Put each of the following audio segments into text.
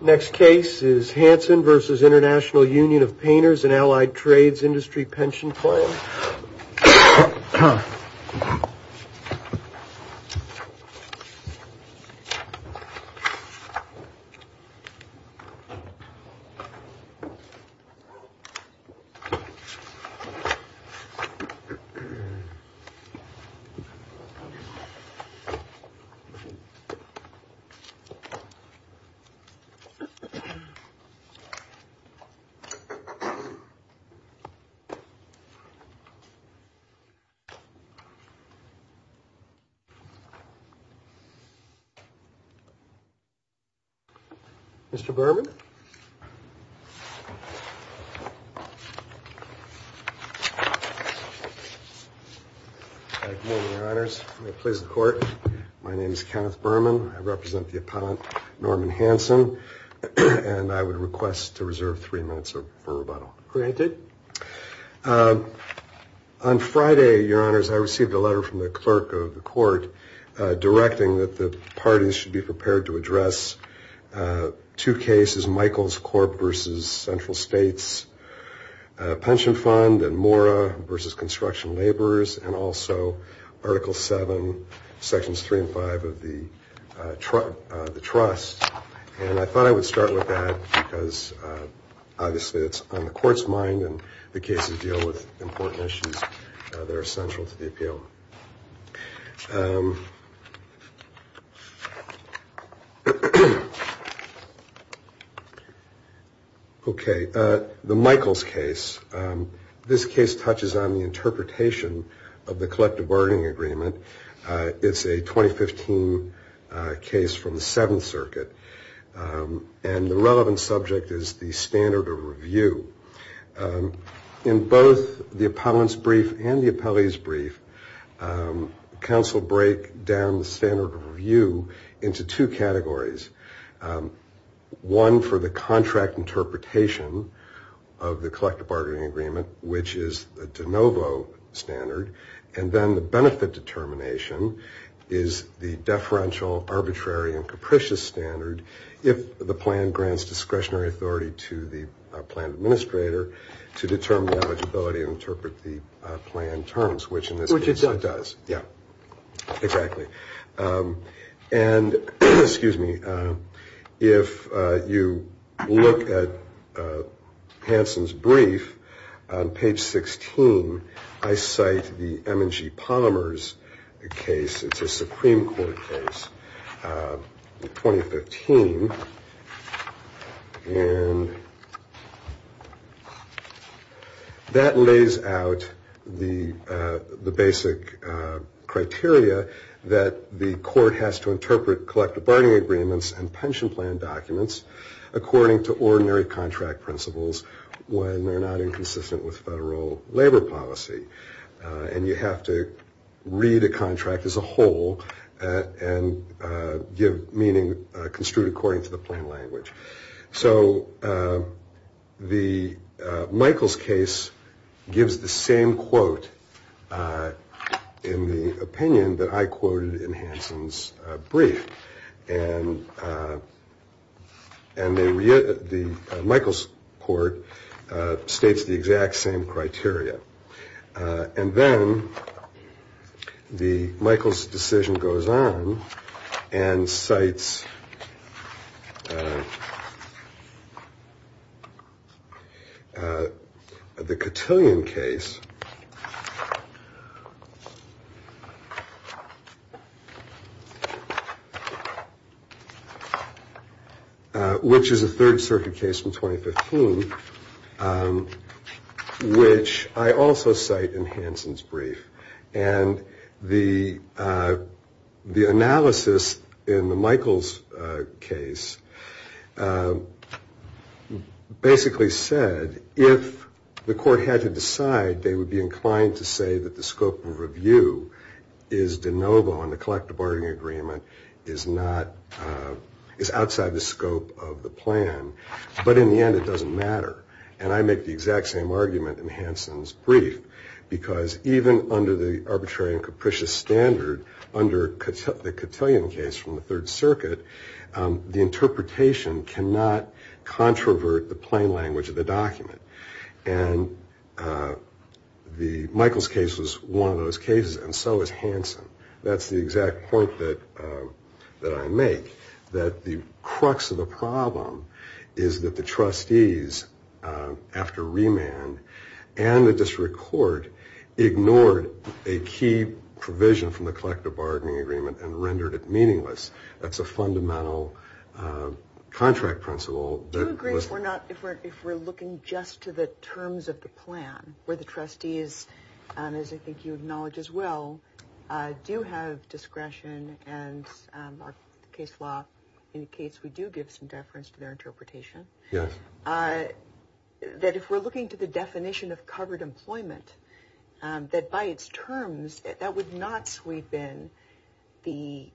Next case is Hansen v. Intl Union of Painters and Allied Trades Industry Pension Plan. Mr. Berman Good morning, Your Honors. My name is Kenneth Berman. I represent the appellant Norman Hansen, and I would request to reserve three minutes for rebuttal. Granted. On Friday, Your Honors, I received a letter from the clerk of the court directing that the parties should be prepared to address two cases, Michael's Corp. v. Central States Pension Fund and Mora v. Construction Laborers, and also Article 7, Sections 3 and 5 of the trust. And I thought I would start with that because obviously it's on the court's mind and the cases deal with important issues that are essential to the appeal. Okay. The Michaels case. This case touches on the interpretation of the collective bargaining agreement. It's a 2015 case from the Seventh Circuit, and the relevant subject is the standard of review. In both the appellant's brief and the appellee's brief, counsel break down the standard of review into two categories, one for the contract interpretation of the collective bargaining agreement, which is the de novo standard, and then the benefit determination is the deferential, arbitrary, and capricious standard if the plan grants discretionary authority to the plan administrator. And if you look at Hansen's brief on page 16, I cite the M&G Polymers case. It's a Supreme Court case in 2015. And that lays out the basic criteria that the court has to interpret collective bargaining agreements and pension plan documents according to ordinary contract principles when they're not inconsistent with federal labor policy. And you have to read a contract as a whole and give meaning construed according to the plain language. So the Michaels case gives the same quote in the opinion that I quoted in Hansen's brief. And the Michaels court states the exact same criteria. And then the Michaels decision goes on and cites the Cotillion case, which is a Third Circuit case from 2015. Which I also cite in Hansen's brief. And the analysis in the Michaels case basically said if the court had to decide, they would be inclined to say that the scope of review is de novo and the collective bargaining agreement is outside the scope of the plan. But in the end, it doesn't matter. And I make the exact same argument in Hansen's brief. Because even under the arbitrary and capricious standard, under the Cotillion case from the Third Circuit, the interpretation cannot controvert the plain language of the document. And the Michaels case was one of those cases, and so was Hansen. That's the exact point that I make. That the crux of the problem is that the trustees, after remand, and the district court ignored a key provision from the collective bargaining agreement and rendered it meaningless. That's a fundamental contract principle. Do you agree if we're looking just to the terms of the plan, where the trustees, as I think you acknowledge as well, do have discretion and our case law indicates we do give some deference to their interpretation? Yes. That if we're looking to the definition of covered employment, that by its terms, that would not sweep in the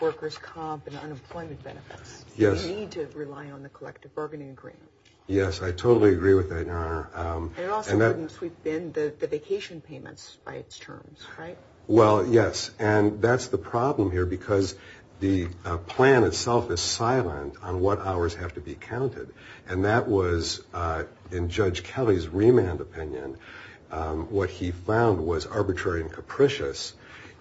workers' comp and unemployment benefits. Yes. We need to rely on the collective bargaining agreement. Yes, I totally agree with that, Your Honor. And it also wouldn't sweep in the vacation payments by its terms, right? Well, yes, and that's the problem here because the plan itself is silent on what hours have to be counted. And that was, in Judge Kelly's remand opinion, what he found was arbitrary and capricious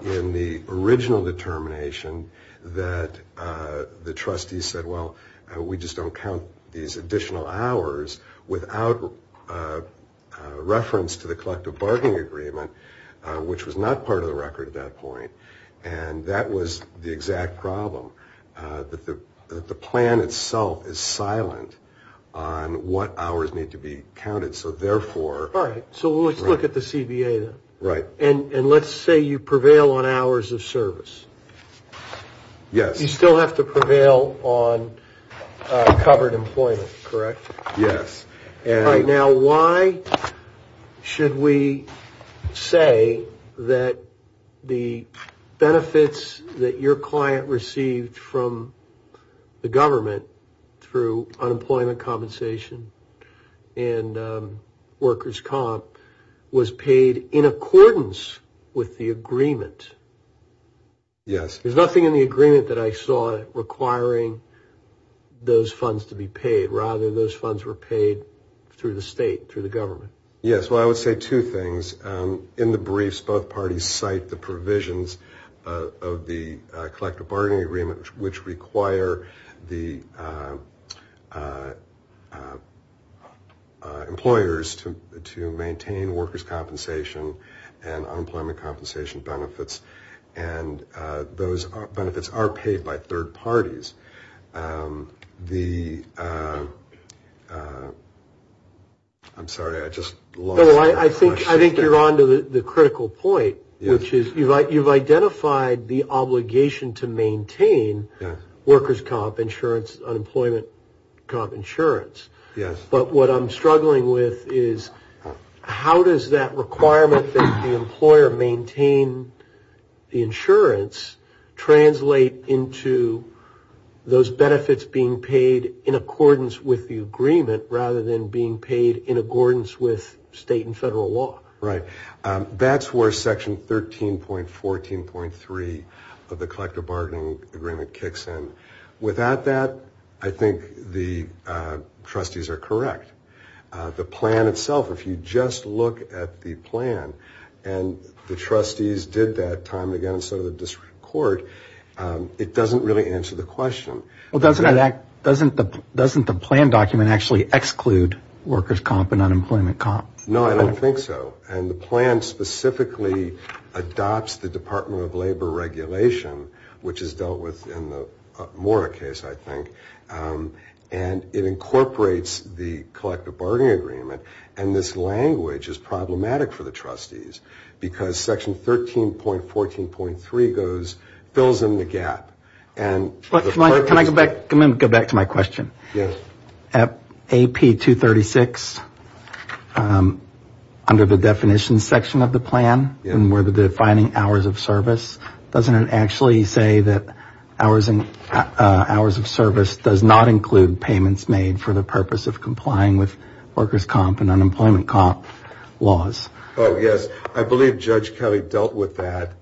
in the original determination that the trustees said, well, we just don't count these additional hours without reference to the collective bargaining agreement, which was not part of the record at that point. And that was the exact problem, that the plan itself is silent on what hours need to be counted. So therefore – Right. So let's look at the CBA, then. Right. And let's say you prevail on hours of service. Yes. You still have to prevail on covered employment, correct? Yes. All right. Now, why should we say that the benefits that your client received from the government through unemployment compensation and workers' comp was paid in accordance with the agreement? Yes. There's nothing in the agreement that I saw requiring those funds to be paid. Rather, those funds were paid through the state, through the government. Yes. Well, I would say two things. In the briefs, both parties cite the provisions of the collective bargaining agreement, which require the employers to maintain workers' compensation and unemployment compensation benefits. And those benefits are paid by third parties. The – I'm sorry, I just lost – No, I think you're on to the critical point, which is you've identified the obligation to maintain workers' comp insurance, unemployment comp insurance. Yes. But what I'm struggling with is how does that requirement that the employer maintain the insurance translate into those benefits being paid in accordance with the agreement rather than being paid in accordance with state and federal law? Right. That's where Section 13.14.3 of the collective bargaining agreement kicks in. Without that, I think the trustees are correct. The plan itself, if you just look at the plan and the trustees did that time and again and so did the district court, it doesn't really answer the question. Well, doesn't that – doesn't the plan document actually exclude workers' comp and unemployment comp? No, I don't think so. And the plan specifically adopts the Department of Labor regulation, which is dealt with in the Mora case, I think. And it incorporates the collective bargaining agreement. And this language is problematic for the trustees because Section 13.14.3 goes – fills in the gap. Can I go back to my question? Yes. AP236, under the definitions section of the plan, where they're defining hours of service, doesn't it actually say that hours of service does not include payments made for the purpose of complying with workers' comp and unemployment comp laws? Oh, yes. I believe Judge Kelly dealt with that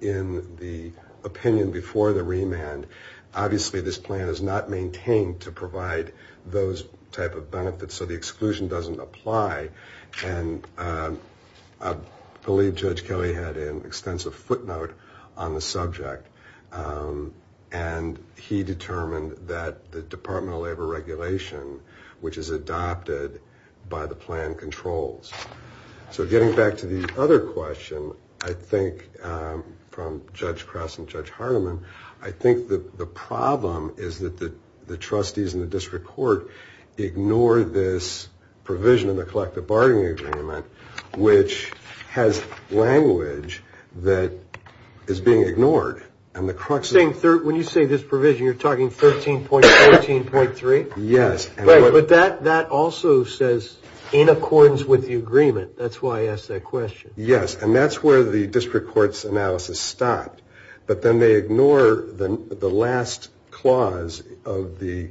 in the opinion before the remand. Obviously, this plan is not maintained to provide those type of benefits, so the exclusion doesn't apply. And I believe Judge Kelly had an extensive footnote on the subject, and he determined that the Department of Labor regulation, which is adopted by the plan, controls. So getting back to the other question, I think, from Judge Cross and Judge Hardiman, I think the problem is that the trustees and the district court ignore this provision in the collective bargaining agreement, which has language that is being ignored. And the crux is – When you say this provision, you're talking 13.14.3? Yes. Right, but that also says in accordance with the agreement. That's why I asked that question. Yes, and that's where the district court's analysis stopped. But then they ignore the last clause of the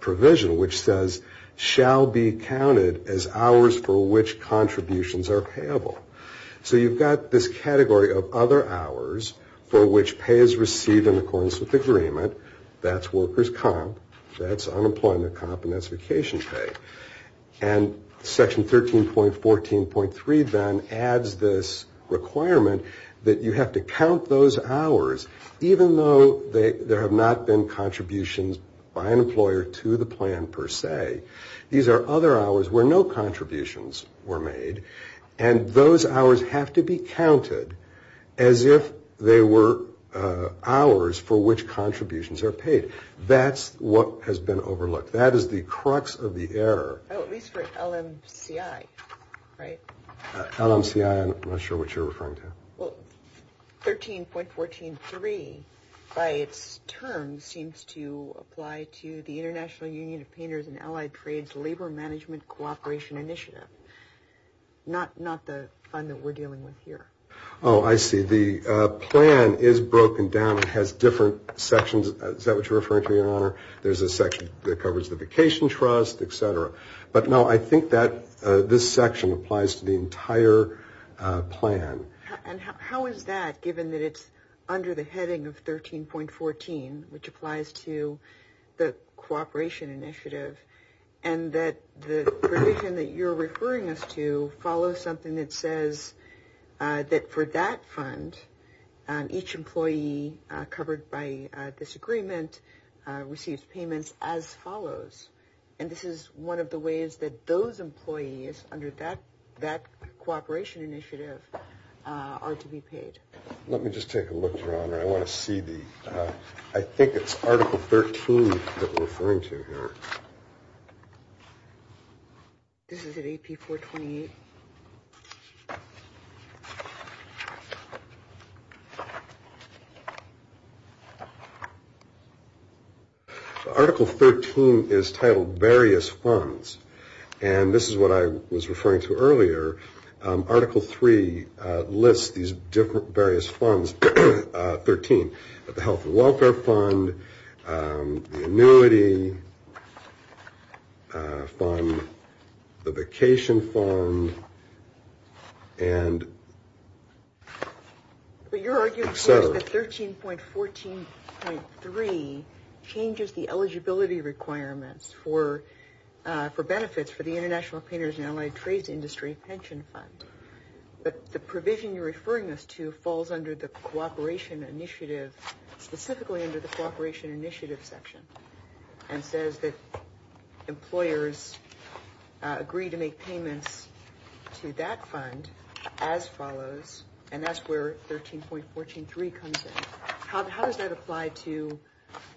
provision, which says, shall be counted as hours for which contributions are payable. So you've got this category of other hours for which pay is received in accordance with the agreement. That's workers' comp, that's unemployment comp, and that's vacation pay. And Section 13.14.3 then adds this requirement that you have to count those hours, even though there have not been contributions by an employer to the plan per se. These are other hours where no contributions were made, and those hours have to be counted as if they were hours for which contributions are paid. That's what has been overlooked. That is the crux of the error. Oh, at least for LMCI, right? LMCI, I'm not sure what you're referring to. Well, 13.14.3, by its term, seems to apply to the International Union of Painters and Allied Trades Labor Management Cooperation Initiative. Not the fund that we're dealing with here. Oh, I see. The plan is broken down and has different sections. Is that what you're referring to, Your Honor? There's a section that covers the vacation trust, et cetera. But no, I think that this section applies to the entire plan. And how is that, given that it's under the heading of 13.14, which applies to the cooperation initiative, and that the provision that you're referring us to follows something that says that for that fund, each employee covered by this agreement receives payments as follows. And this is one of the ways that those employees, under that cooperation initiative, are to be paid. Let me just take a look, Your Honor. I want to see the – I think it's Article 13 that we're referring to here. This is at AP 428. Article 13 is titled Various Funds. And this is what I was referring to earlier. Article 3 lists these various funds, 13, the health and welfare fund, the annuity fund, the vacation fund, and et cetera. It says that 13.14.3 changes the eligibility requirements for benefits for the International Painters and Allied Trades Industry Pension Fund. But the provision you're referring us to falls under the cooperation initiative, specifically under the cooperation initiative section, and says that employers agree to make payments to that fund as follows. And that's where 13.14.3 comes in. How does that apply to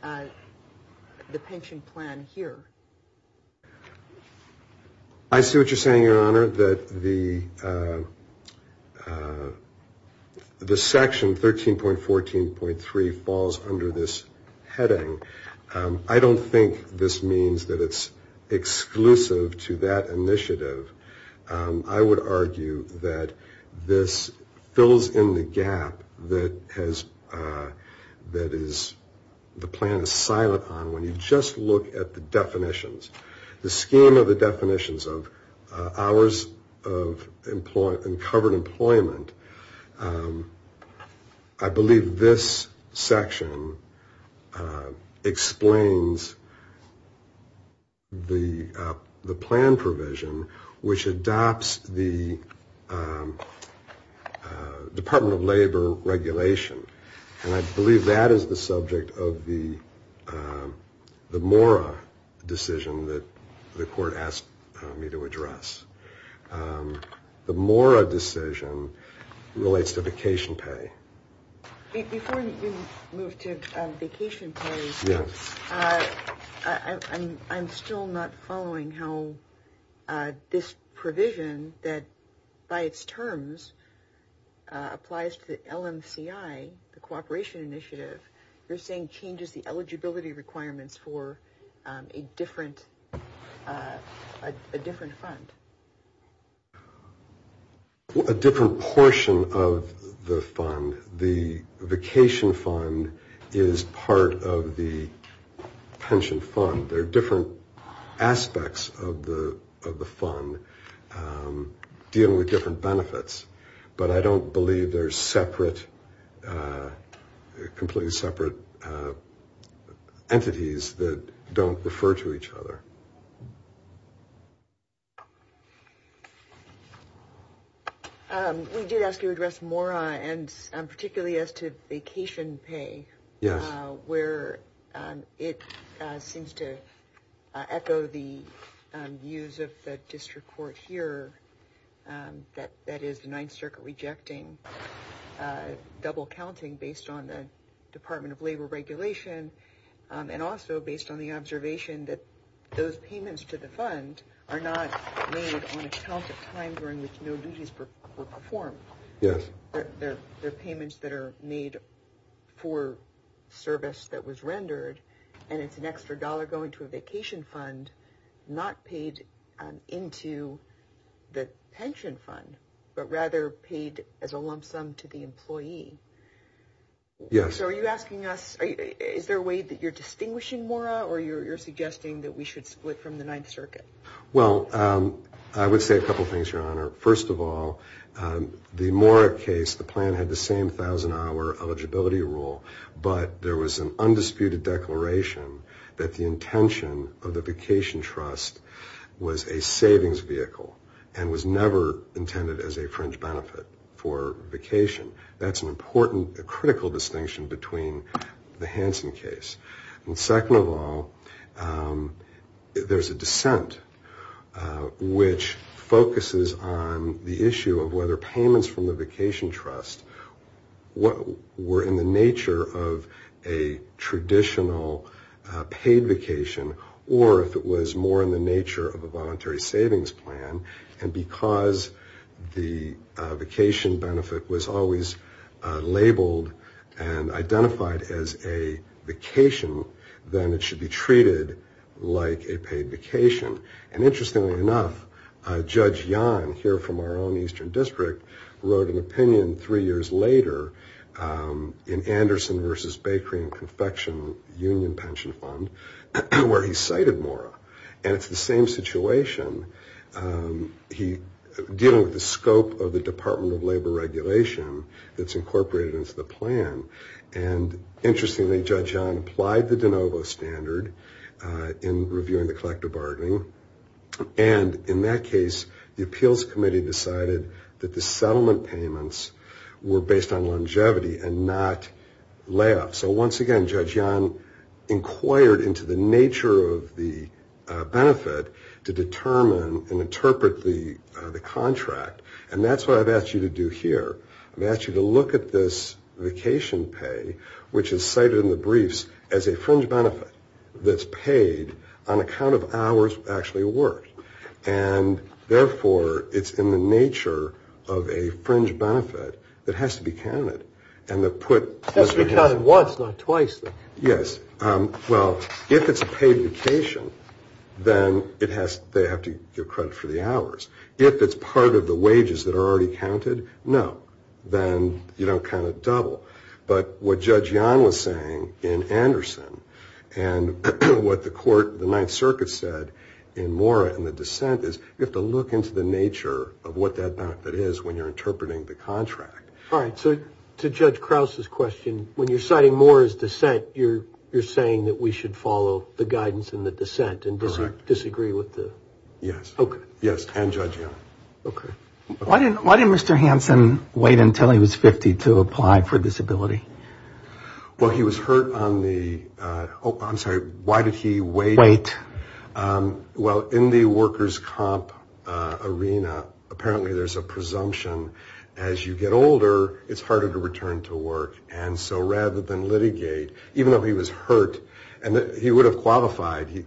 the pension plan here? I see what you're saying, Your Honor, that the section 13.14.3 falls under this heading. I don't think this means that it's exclusive to that initiative. I would argue that this fills in the gap that has – that is – the plan is silent on when you just look at the definitions. The scheme of the definitions of hours of employment and covered employment, I believe this section explains the plan provision which adopts the Department of Labor regulation. And I believe that is the subject of the MORA decision that the court asked me to address. The MORA decision relates to vacation pay. Before you move to vacation pay, I'm still not following how this provision that by its terms applies to the LMCI, the cooperation initiative, you're saying changes the eligibility requirements for a different fund. A different portion of the fund. The vacation fund is part of the pension fund. There are different aspects of the fund dealing with different benefits. But I don't believe there's separate – completely separate entities that don't refer to each other. We did ask you to address MORA and particularly as to vacation pay. Yes. Where it seems to echo the views of the district court here, that is, the Ninth Circuit rejecting double-counting based on the Department of Labor regulation and also based on the observation that those payments to the fund are not made on account of time during which no duties were performed. Yes. They're payments that are made for service that was rendered, and it's an extra dollar going to a vacation fund not paid into the pension fund, but rather paid as a lump sum to the employee. Yes. So are you asking us – is there a way that you're distinguishing MORA or you're suggesting that we should split from the Ninth Circuit? First of all, the MORA case, the plan had the same 1,000-hour eligibility rule, but there was an undisputed declaration that the intention of the vacation trust was a savings vehicle and was never intended as a fringe benefit for vacation. That's an important – a critical distinction between the Hansen case. And second of all, there's a dissent which focuses on the issue of whether payments from the vacation trust were in the nature of a traditional paid vacation or if it was more in the nature of a voluntary savings plan. And because the vacation benefit was always labeled and identified as a vacation, then it should be treated like a paid vacation. And interestingly enough, Judge Yon, here from our own Eastern District, wrote an opinion three years later in Anderson v. Bakery and Confection Union Pension Fund where he cited MORA. And it's the same situation dealing with the scope of the Department of Labor regulation that's incorporated into the plan. And interestingly, Judge Yon applied the de novo standard in reviewing the collective bargaining. And in that case, the appeals committee decided that the settlement payments were based on longevity and not layoffs. So once again, Judge Yon inquired into the nature of the benefit to determine and interpret the contract. And that's what I've asked you to do here. I've asked you to look at this vacation pay, which is cited in the briefs as a fringe benefit that's paid on account of hours actually worked. And therefore, it's in the nature of a fringe benefit that has to be counted. It has to be counted once, not twice. Yes. Well, if it's a paid vacation, then they have to give credit for the hours. If it's part of the wages that are already counted, no. Then you don't count it double. But what Judge Yon was saying in Anderson and what the Ninth Circuit said in MORA and the dissent is you have to look into the nature of what that benefit is when you're interpreting the contract. All right. So to Judge Krause's question, when you're citing MORA's dissent, you're saying that we should follow the guidance in the dissent and disagree with the – Yes. Okay. Yes, and Judge Yon. Okay. Why didn't Mr. Hansen wait until he was 50 to apply for disability? Well, he was hurt on the – oh, I'm sorry. Why did he wait? Wait. Well, in the workers' comp arena, apparently there's a presumption as you get older, it's harder to return to work. And so rather than litigate, even though he was hurt and he would have qualified, he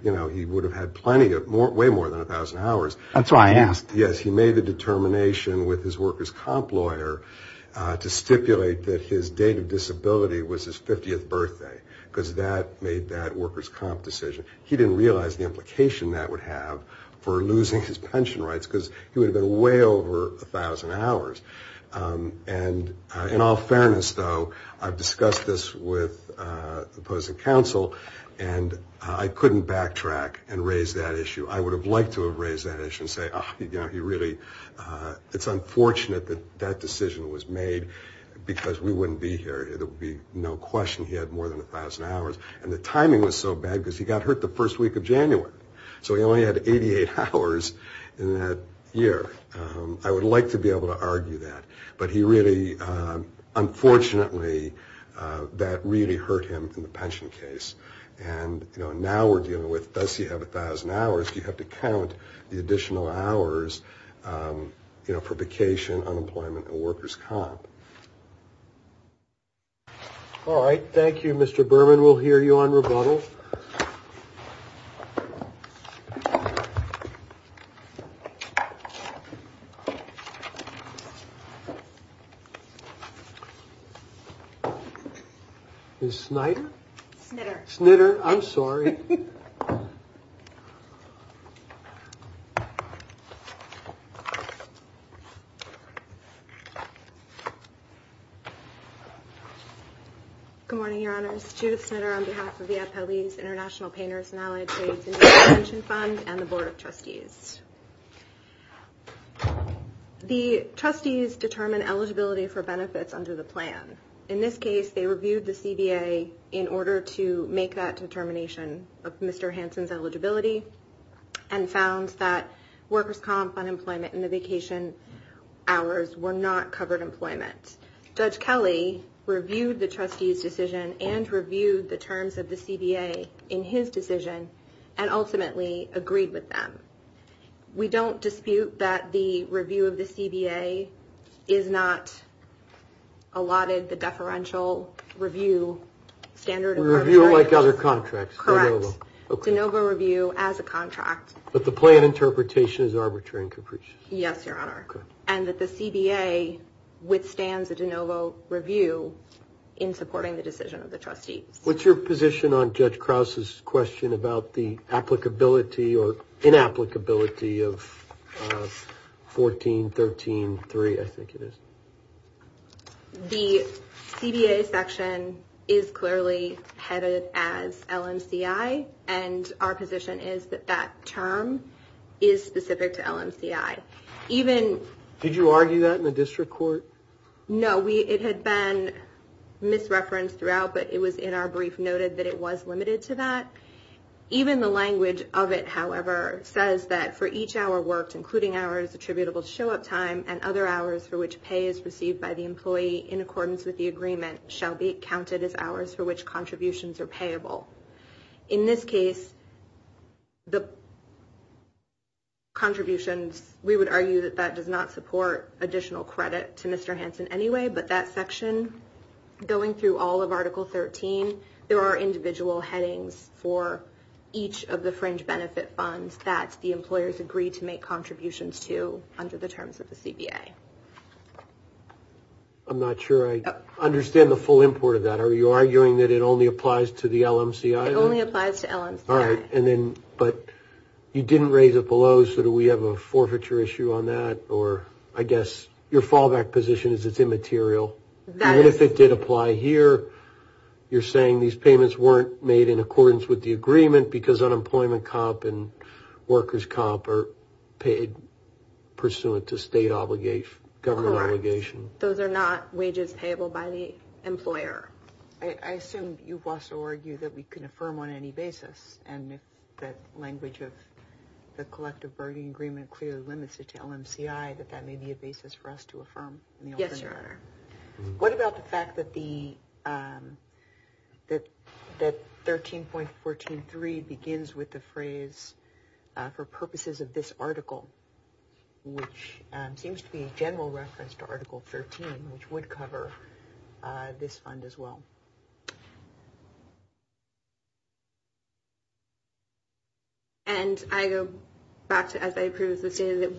would have had plenty of – way more than 1,000 hours. That's why I asked. Yes. He made a determination with his workers' comp lawyer to stipulate that his date of disability was his 50th birthday because that made that workers' comp decision. He didn't realize the implication that would have for losing his pension rights because he would have been way over 1,000 hours. And in all fairness, though, I've discussed this with opposing counsel, and I couldn't backtrack and raise that issue. I would have liked to have raised that issue and say, oh, you know, he really – it's unfortunate that that decision was made because we wouldn't be here. There would be no question he had more than 1,000 hours. And the timing was so bad because he got hurt the first week of January. So he only had 88 hours in that year. I would like to be able to argue that. But he really – unfortunately, that really hurt him in the pension case. And, you know, now we're dealing with, does he have 1,000 hours? Do you have to count the additional hours, you know, for vacation, unemployment, and workers' comp? All right. Thank you, Mr. Berman. We'll hear you on rebuttal. Ms. Snyder? Snitter. Snitter. I'm sorry. Good morning, Your Honors. Judith Snitter on behalf of the Appellee's International Painters and Allied Trades Indian Pension Fund and the Board of Trustees. The trustees determine eligibility for benefits under the plan. In this case, they reviewed the CBA in order to make that determination of Mr. Hansen's eligibility and found that workers' comp, unemployment, and the vacation hours were not covered employment. Judge Kelly reviewed the trustees' decision and reviewed the terms of the CBA in his decision and ultimately agreed with them. We don't dispute that the review of the CBA is not allotted the deferential review standard. Review like other contracts. Correct. Okay. De novo review as a contract. But the plan interpretation is arbitrary and capricious. Yes, Your Honor. Okay. And that the CBA withstands a de novo review in supporting the decision of the trustees. What's your position on Judge Krause's question about the applicability or inapplicability of 14-13-3? I think it is. The CBA section is clearly headed as LMCI, and our position is that that term is specific to LMCI. Did you argue that in the district court? No. It had been misreferenced throughout, but it was in our brief noted that it was limited to that. Even the language of it, however, says that for each hour worked, including hours attributable to show-up time and other hours for which pay is received by the employee in accordance with the agreement, shall be counted as hours for which contributions are payable. In this case, the contributions, we would argue that that does not support additional credit to Mr. Hansen anyway, but that section, going through all of Article 13, there are individual headings for each of the fringe benefit funds that the employers agree to make contributions to under the terms of the CBA. I'm not sure I understand the full import of that. Are you arguing that it only applies to the LMCI? It only applies to LMCI. All right. But you didn't raise it below, so do we have a forfeiture issue on that? I guess your fallback position is it's immaterial. That is true. The benefit did apply here. You're saying these payments weren't made in accordance with the agreement Correct. Those are not wages payable by the employer. I assume you've also argued that we can affirm on any basis, and that language of the collective bargaining agreement clearly limits it to LMCI, that that may be a basis for us to affirm. Yes, Your Honor. What about the fact that 13.14.3 begins with the phrase, for purposes of this article, which seems to be a general reference to Article 13, which would cover this fund as well? And I go back to, as I previously stated,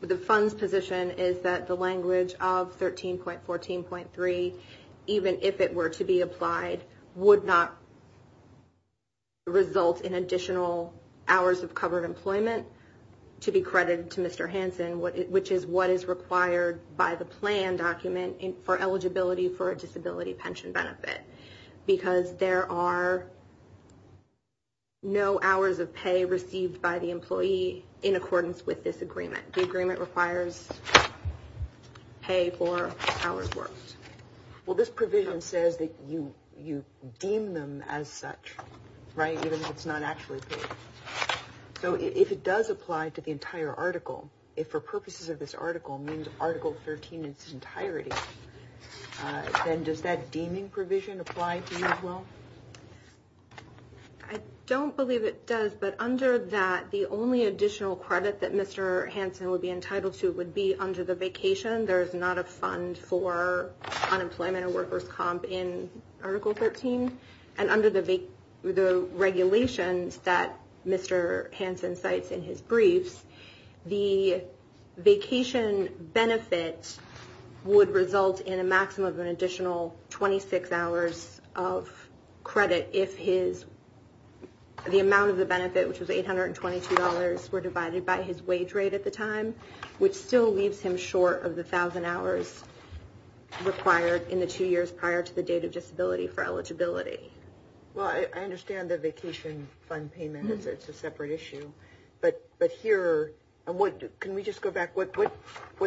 the fund's position is that the language of 13.14.3, even if it were to be applied, would not result in additional hours of covered employment to be credited to Mr. Hansen, which is what is required by the plan document for eligibility for a disability pension benefit. Because there are no hours of pay received by the employee in accordance with this agreement. The agreement requires pay for hours worked. Well, this provision says that you deem them as such, right? Even if it's not actually paid. So if it does apply to the entire article, if for purposes of this article means Article 13 in its entirety, then does that deeming provision apply to you as well? I don't believe it does. But under that, the only additional credit that Mr. Hansen would be entitled to would be under the vacation. There is not a fund for unemployment or workers' comp in Article 13. And under the regulations that Mr. Hansen cites in his briefs, the vacation benefit would result in a maximum of an additional 26 hours of pay. The amount of the benefit, which was $822, were divided by his wage rate at the time, which still leaves him short of the 1,000 hours required in the two years prior to the date of disability for eligibility. Well, I understand the vacation fund payment. It's a separate issue. But here, can we just go back? What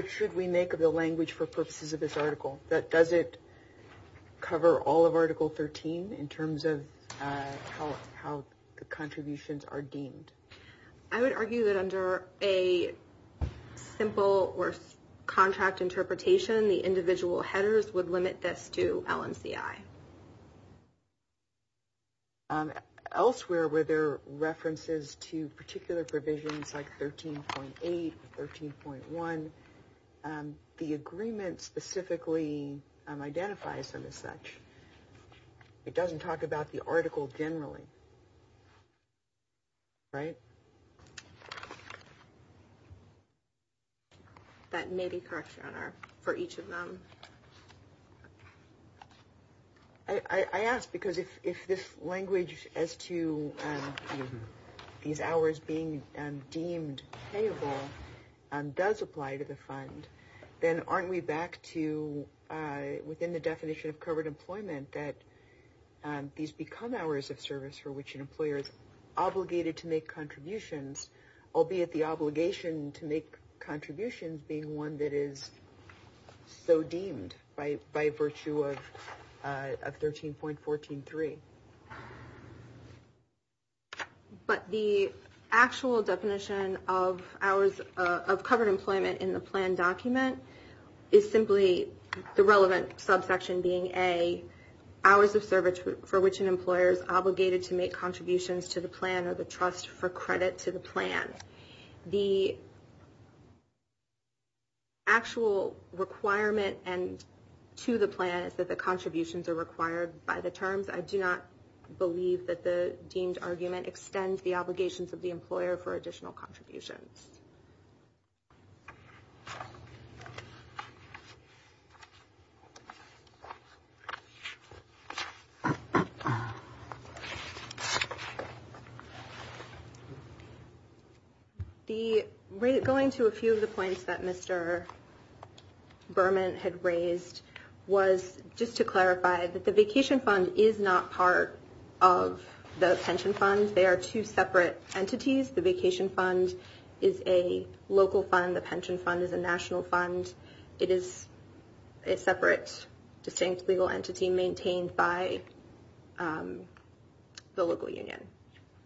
should we make of the language for purposes of this article? Does it cover all of Article 13 in terms of how the contributions are deemed? I would argue that under a simple or contract interpretation, the individual headers would limit this to LMCI. Elsewhere, where there are references to particular provisions like 13.8 or 13.1, the agreement specifically identifies them as such. It doesn't talk about the article generally. Right? That may be correct, Your Honor, for each of them. I ask because if this language as to these hours being deemed payable does apply to the fund, then aren't we back to within the definition of covered employment that these become hours of service for which an employer is obligated to make contributions, albeit the obligation to make contributions being one that is so deemed by virtue of 13.14.3. But the actual definition of hours of covered employment in the plan document is simply the relevant subsection being A, hours of service for which an employer is obligated to make contributions to the plan or the trust for credit to the plan. The actual requirement to the plan is that the contributions are required by the terms. I do not believe that the deemed argument extends the obligations of the employer for additional contributions. Going to a few of the points that Mr. Berman had raised was just to clarify that the vacation fund is not part of the pension fund. They are two separate entities. The vacation fund is a local fund. The pension fund is a national fund. It is a separate, distinct legal entity maintained by the local union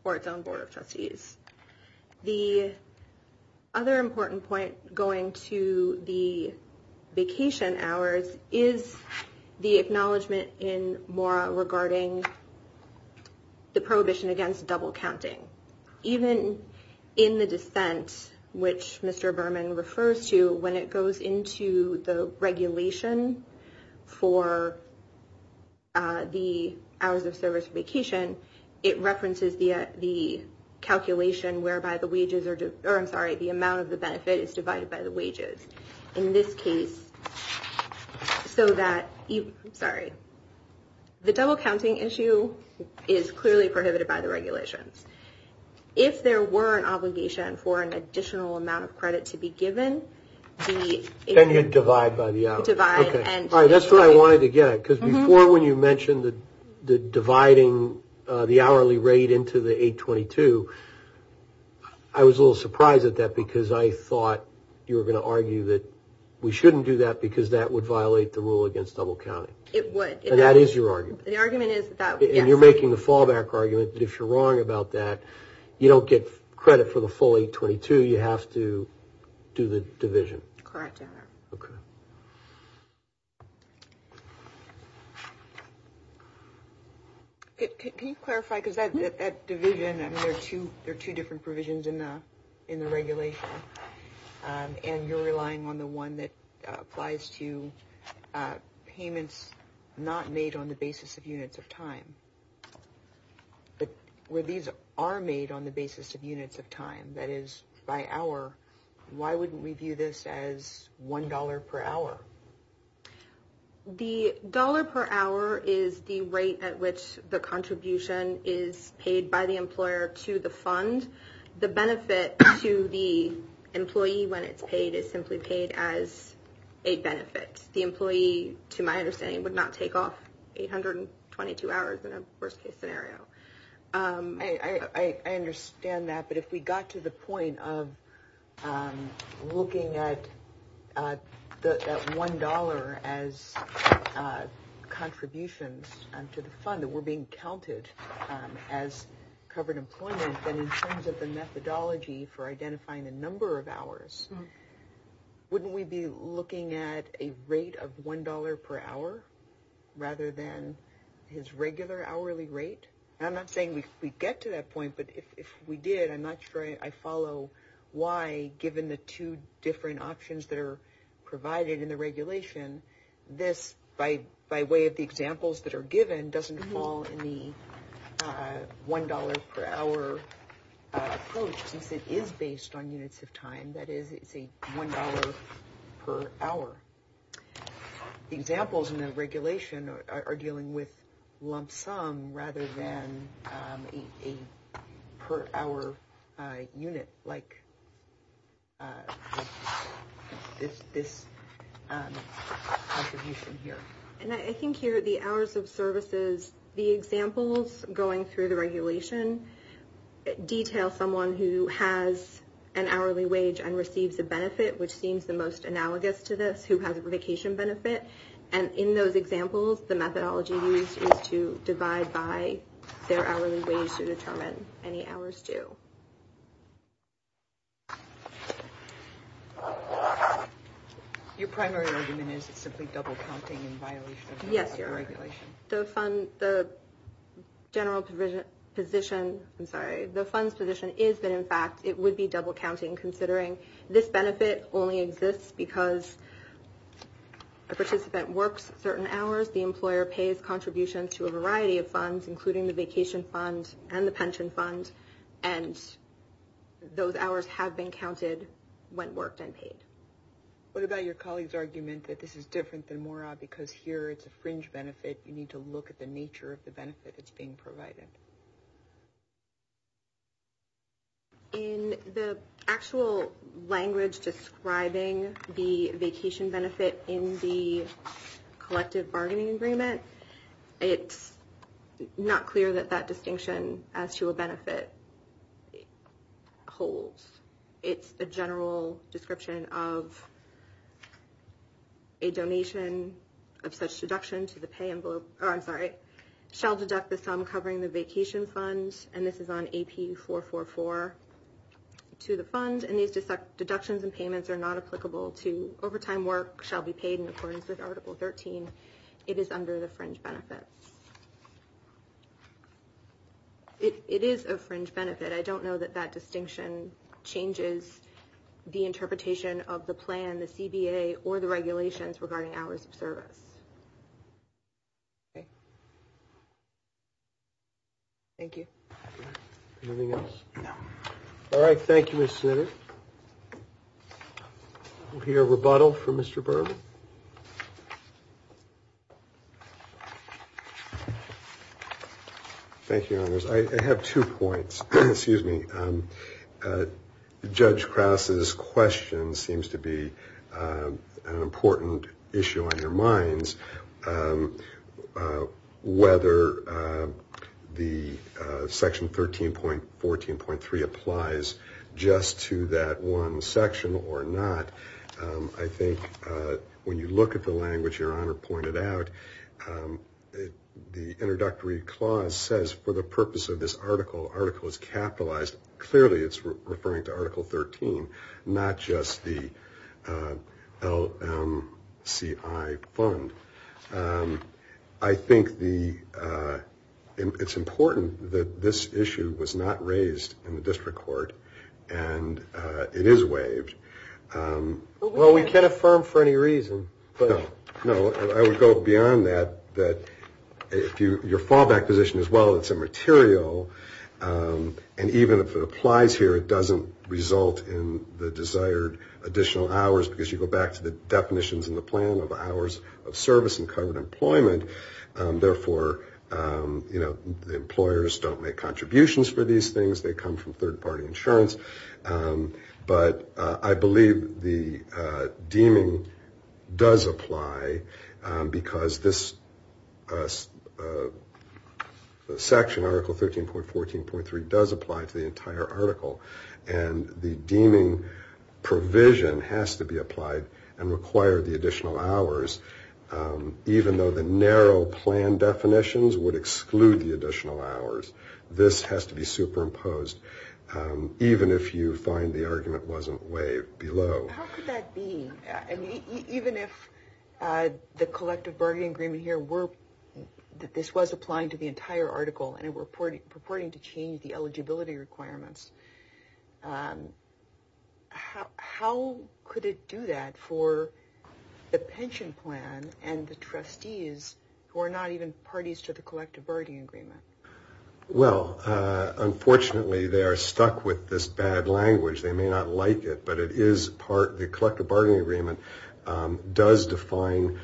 or its own board of trustees. The other important point going to the vacation hours is the acknowledgement in MORA regarding the prohibition against double counting. Even in the dissent, which Mr. Berman refers to, when it goes into the regulation for the hours of service vacation, it references the calculation whereby the amount of the benefit is divided by the wages. In this case, the double counting issue is clearly prohibited by the regulations. If there were an obligation for an additional amount of credit to be given, then you would divide by the hours. That is what I wanted to get at. Before, when you mentioned dividing the hourly rate into the 822, I was a little surprised at that because I thought you were going to argue that we should not do that because that would violate the rule against double counting. It would. That is your argument. You are making the fallback argument. If you are wrong about that, you do not get credit for the full 822. You have to do the division. Correct, Anna. Okay. Can you clarify? Because that division, there are two different provisions in the regulation, and you are relying on the one that applies to payments not made on the basis of units of time. But where these are made on the basis of units of time, that is by hour, why wouldn't we view this as $1 per hour? The dollar per hour is the rate at which the contribution is paid by the employer to the fund. The benefit to the employee when it is paid is simply paid as a benefit. The employee, to my understanding, would not take off 822 hours in a worst-case scenario. I understand that, but if we got to the point of looking at that $1 as contributions to the fund that were being counted as covered employment, then in terms of the methodology for identifying the number of hours, wouldn't we be looking at a rate of $1 per hour rather than his regular hourly rate? I'm not saying we get to that point, but if we did, I'm not sure I follow why, given the two different options that are provided in the regulation, this, by way of the examples that are given, doesn't fall in the $1 per hour approach, since it is based on units of time, that is, it's a $1 per hour. The examples in the regulation are dealing with lump sum rather than a per hour unit, like this contribution here. And I think here, the hours of services, the examples going through the regulation, detail someone who has an hourly wage and receives a benefit, which seems the most analogous to this, who has a vacation benefit. And in those examples, the methodology used is to divide by their hourly wage to determine any hours due. Your primary argument is it's simply double-counting in violation of the regulation? The general position, I'm sorry, the fund's position is that, in fact, it would be double-counting, considering this benefit only exists because a participant works certain hours, the employer pays contributions to a variety of funds, including the vacation fund and the pension fund, and those hours have been counted when worked and paid. What about your colleague's argument that this is different than MORA because here it's a fringe benefit, you need to look at the nature of the benefit that's being provided? In the actual language describing the vacation benefit in the collective bargaining agreement, it's not clear that that distinction as to a benefit holds. It's a general description of a donation of such deduction to the pay envelope, or I'm sorry, shall deduct the sum covering the vacation fund, and this is on AP444, to the fund, and these deductions and payments are not applicable to overtime work, shall be paid in accordance with Article 13. It is under the fringe benefit. It is a fringe benefit. I don't know that that distinction changes the interpretation of the plan, the CBA, or the regulations regarding hours of service. Okay. Thank you. Anything else? No. All right, thank you, Ms. Snider. We'll hear a rebuttal from Mr. Berman. Thank you, Your Honors. I have two points. Excuse me. Judge Krause's question seems to be an important issue on your minds. Whether the Section 13.14.3 applies just to that one section or not, I think when you look at the language Your Honor pointed out, the introductory clause says for the purpose of this article, article is capitalized. Clearly it's referring to Article 13, not just the LMCI fund. I think it's important that this issue was not raised in the district court, and it is waived. Well, we can't affirm for any reason. No, I would go beyond that. Your fallback position is, well, it's immaterial, and even if it applies here, it doesn't result in the desired additional hours, because you go back to the definitions in the plan of hours of service and covered employment. Therefore, the employers don't make contributions for these things. They come from third-party insurance. But I believe the deeming does apply, because this section, Article 13.14.3, does apply to the entire article, and the deeming provision has to be applied and require the additional hours, even though the narrow plan definitions would exclude the additional hours. This has to be superimposed, even if you find the argument wasn't waived below. How could that be? Even if the collective bargaining agreement here were that this was applying to the entire article and it were purporting to change the eligibility requirements, how could it do that for the pension plan and the trustees who are not even parties to the collective bargaining agreement? Well, unfortunately, they are stuck with this bad language. They may not like it, but it is part of the collective bargaining agreement. It does define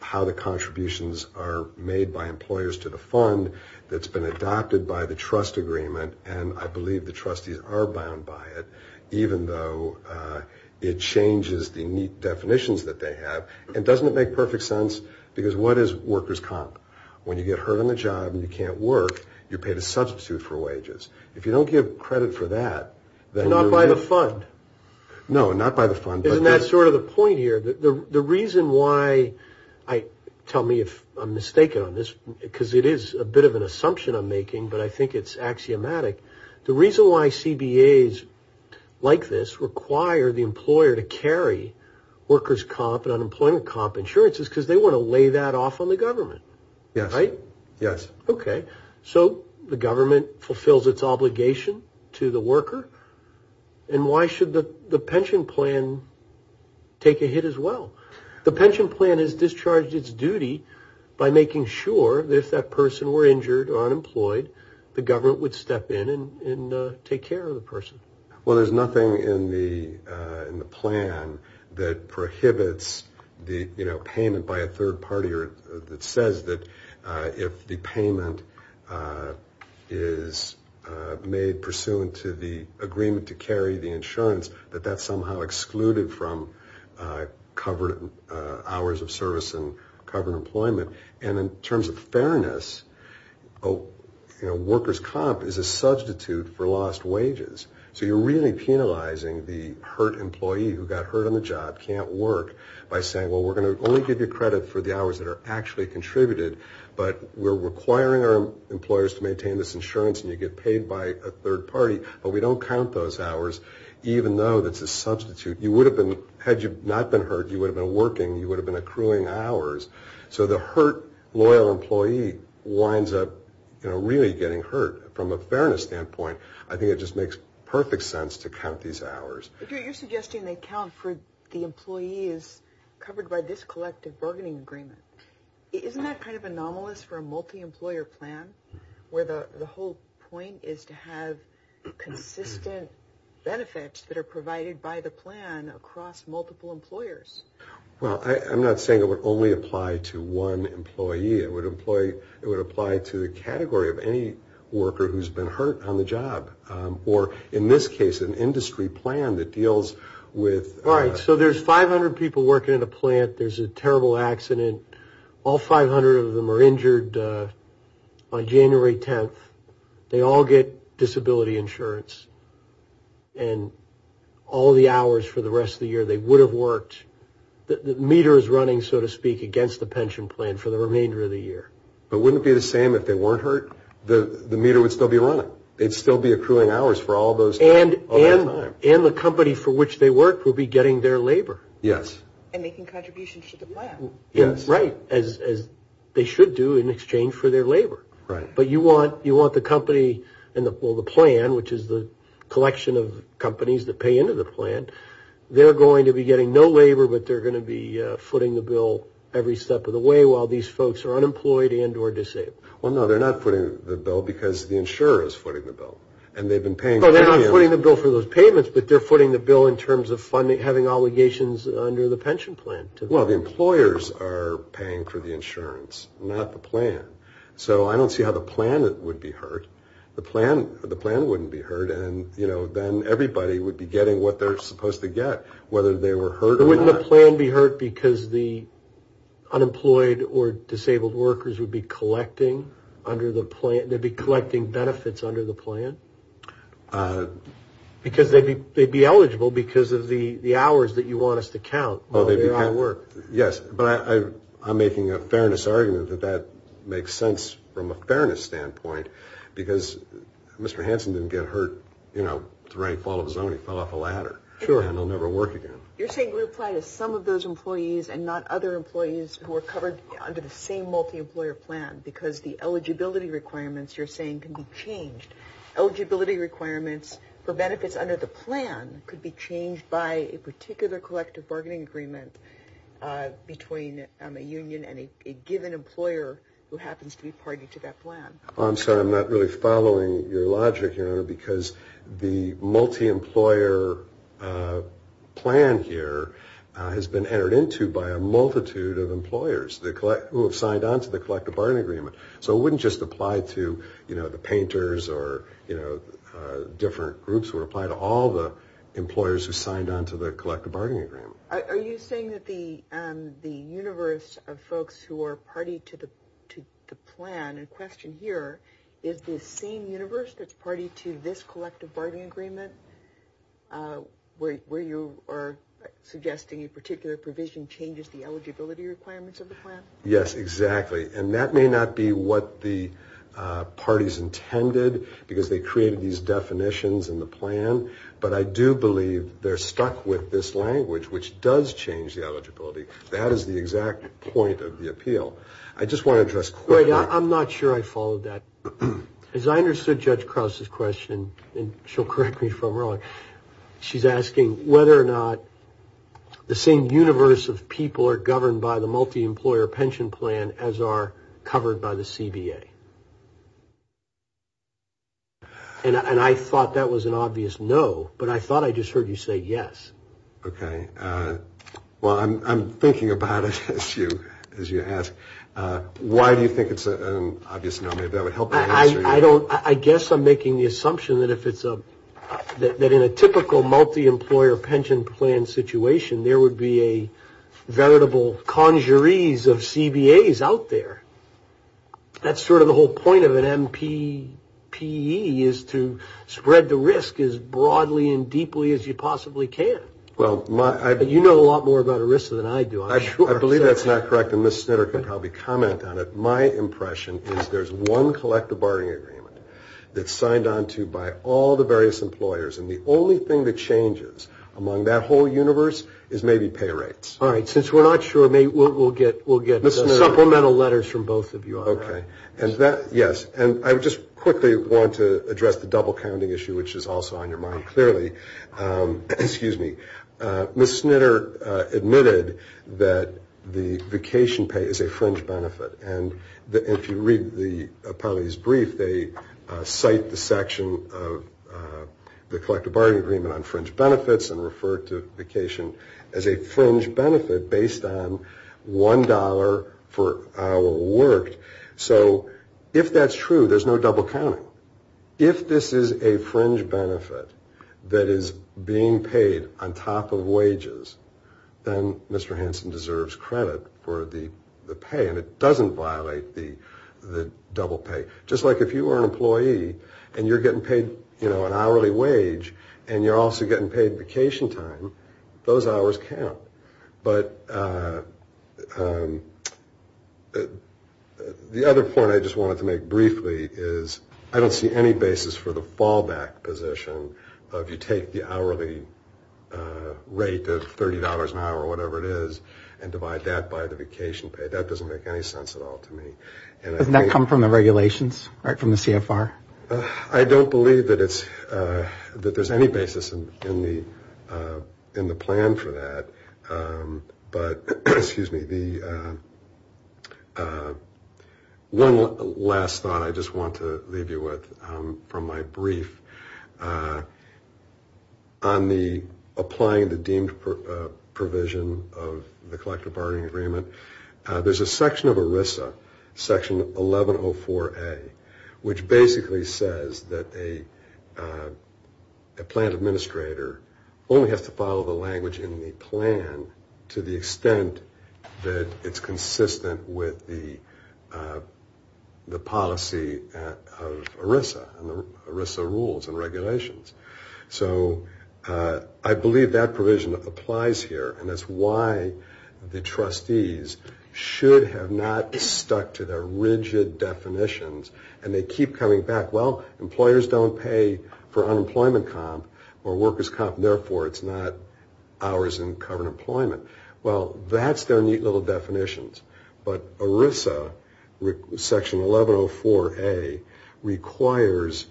how the contributions are made by employers to the fund. It's been adopted by the trust agreement, and I believe the trustees are bound by it, even though it changes the neat definitions that they have. And doesn't it make perfect sense? Because what is workers' comp? When you get hurt on the job and you can't work, you're paid a substitute for wages. If you don't give credit for that, then you're... Not by the fund. No, not by the fund. Isn't that sort of the point here? The reason why I tell me if I'm mistaken on this, because it is a bit of an assumption I'm making, but I think it's axiomatic. The reason why CBAs like this require the employer to carry workers' comp and unemployment comp insurances is because they want to lay that off on the government. Yes. Right? Yes. Okay. So the government fulfills its obligation to the worker, and why should the pension plan take a hit as well? The pension plan has discharged its duty by making sure that if that person were injured or unemployed, the government would step in and take care of the person. Well, there's nothing in the plan that prohibits the payment by a third party that says that if the payment is made pursuant to the agreement to carry the insurance, that that's somehow excluded from covered hours of service and covered employment. And in terms of fairness, workers' comp is a substitute for lost wages. So you're really penalizing the hurt employee who got hurt on the job, can't work, by saying, well, we're going to only give you credit for the hours that are actually contributed, but we're requiring our employers to maintain this insurance and you get paid by a third party, but we don't count those hours even though that's a substitute. You would have been, had you not been hurt, you would have been working, you would have been accruing hours. So the hurt loyal employee winds up really getting hurt. From a fairness standpoint, I think it just makes perfect sense to count these hours. You're suggesting they count for the employees covered by this collective bargaining agreement. Isn't that kind of anomalous for a multi-employer plan where the whole point is to have consistent benefits that are provided by the plan across multiple employers? Well, I'm not saying it would only apply to one employee. It would apply to the category of any worker who's been hurt on the job. Or in this case, an industry plan that deals with... All right, so there's 500 people working at a plant. There's a terrible accident. All 500 of them are injured on January 10th. They all get disability insurance. And all the hours for the rest of the year, they would have worked. The meter is running, so to speak, against the pension plan for the remainder of the year. But wouldn't it be the same if they weren't hurt? The meter would still be running. They'd still be accruing hours for all those hours. And the company for which they work will be getting their labor. Yes. And making contributions to the plan. Right, as they should do in exchange for their labor. Right. But you want the company and the plan, which is the collection of companies that pay into the plan. They're going to be getting no labor, but they're going to be footing the bill every step of the way while these folks are unemployed and or disabled. Well, no, they're not footing the bill because the insurer is footing the bill. And they've been paying... No, they're not footing the bill for those payments, but they're footing the bill in terms of having obligations under the pension plan. Well, the employers are paying for the insurance, not the plan. So I don't see how the plan would be hurt. The plan wouldn't be hurt, and then everybody would be getting what they're supposed to get, whether they were hurt or not. Wouldn't the plan be hurt because the unemployed or disabled workers would be collecting benefits under the plan? Because they'd be eligible because of the hours that you want us to count while they're out of work. Yes, but I'm making a fairness argument that that makes sense from a fairness standpoint because Mr. Hansen didn't get hurt, you know, the right fall of the zone. He fell off a ladder. Sure. And he'll never work again. You're saying we apply to some of those employees and not other employees who are covered under the same multi-employer plan because the eligibility requirements you're saying can be changed. Eligibility requirements for benefits under the plan could be changed by a particular collective bargaining agreement between a union and a given employer who happens to be party to that plan. I'm sorry. I'm not really following your logic, Your Honor, because the multi-employer plan here has been entered into by a multitude of employers who have signed on to the collective bargaining agreement. So it wouldn't just apply to, you know, the painters or, you know, different groups. It would apply to all the employers who signed on to the collective bargaining agreement. Are you saying that the universe of folks who are party to the plan in question here is the same universe that's party to this collective bargaining agreement where you are suggesting a particular provision changes the eligibility requirements of the plan? Yes, exactly. And that may not be what the parties intended because they created these definitions in the plan, but I do believe they're stuck with this language, which does change the eligibility. That is the exact point of the appeal. I just want to address quickly. I'm not sure I followed that. As I understood Judge Krause's question, and she'll correct me if I'm wrong, she's asking whether or not the same universe of people are governed by the multi-employer pension plan as are covered by the CBA. And I thought that was an obvious no, but I thought I just heard you say yes. Okay. Well, I'm thinking about it as you ask. Why do you think it's an obvious no? Maybe that would help me answer your question. I guess I'm making the assumption that in a typical multi-employer pension plan situation, there would be a veritable conjuries of CBAs out there. That's sort of the whole point of an MPPE is to spread the risk as broadly and deeply as you possibly can. You know a lot more about ERISA than I do, I'm sure. I believe that's not correct, and Ms. Snitter could probably comment on it. My impression is there's one collective bargaining agreement that's signed onto by all the various employers, and the only thing that changes among that whole universe is maybe pay rates. All right. Since we're not sure, we'll get supplemental letters from both of you on that. Okay. Yes. And I just quickly want to address the double-counting issue, which is also on your mind clearly. Excuse me. Ms. Snitter admitted that the vacation pay is a fringe benefit, and if you read the appellee's brief, they cite the section of the collective bargaining agreement on fringe benefits and refer to vacation as a fringe benefit based on $1 per hour worked. So if that's true, there's no double-counting. If this is a fringe benefit that is being paid on top of wages, then Mr. Hansen deserves credit for the pay, and it doesn't violate the double pay. Just like if you were an employee and you're getting paid an hourly wage and you're also getting paid vacation time, those hours count. But the other point I just wanted to make briefly is I don't see any basis for the fallback position of you take the hourly rate of $30 an hour or whatever it is and divide that by the vacation pay. That doesn't make any sense at all to me. Doesn't that come from the regulations, right, from the CFR? I don't believe that there's any basis in the plan for that. But, excuse me, one last thought I just want to leave you with from my brief, on the applying the deemed provision of the collective bargaining agreement, there's a section of ERISA. Section 1104A, which basically says that a plan administrator only has to follow the language in the plan to the extent that it's consistent with the policy of ERISA and the ERISA rules and regulations. So I believe that provision applies here and that's why the trustees should have not stuck to their rigid definitions and they keep coming back, well, employers don't pay for unemployment comp or workers comp, therefore it's not hours in covered employment. Well, that's their neat little definitions. But ERISA, section 1104A, requires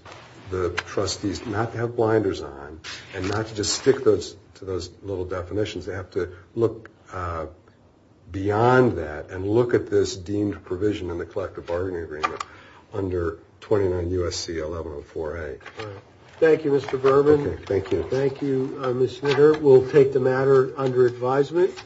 the trustees not to have blinders on and not to just stick to those little definitions. They have to look beyond that and look at this deemed provision in the collective bargaining agreement under 29 U.S.C. 1104A. Thank you, Mr. Berman. Thank you, Ms. Smitter. We'll take the matter under advisement.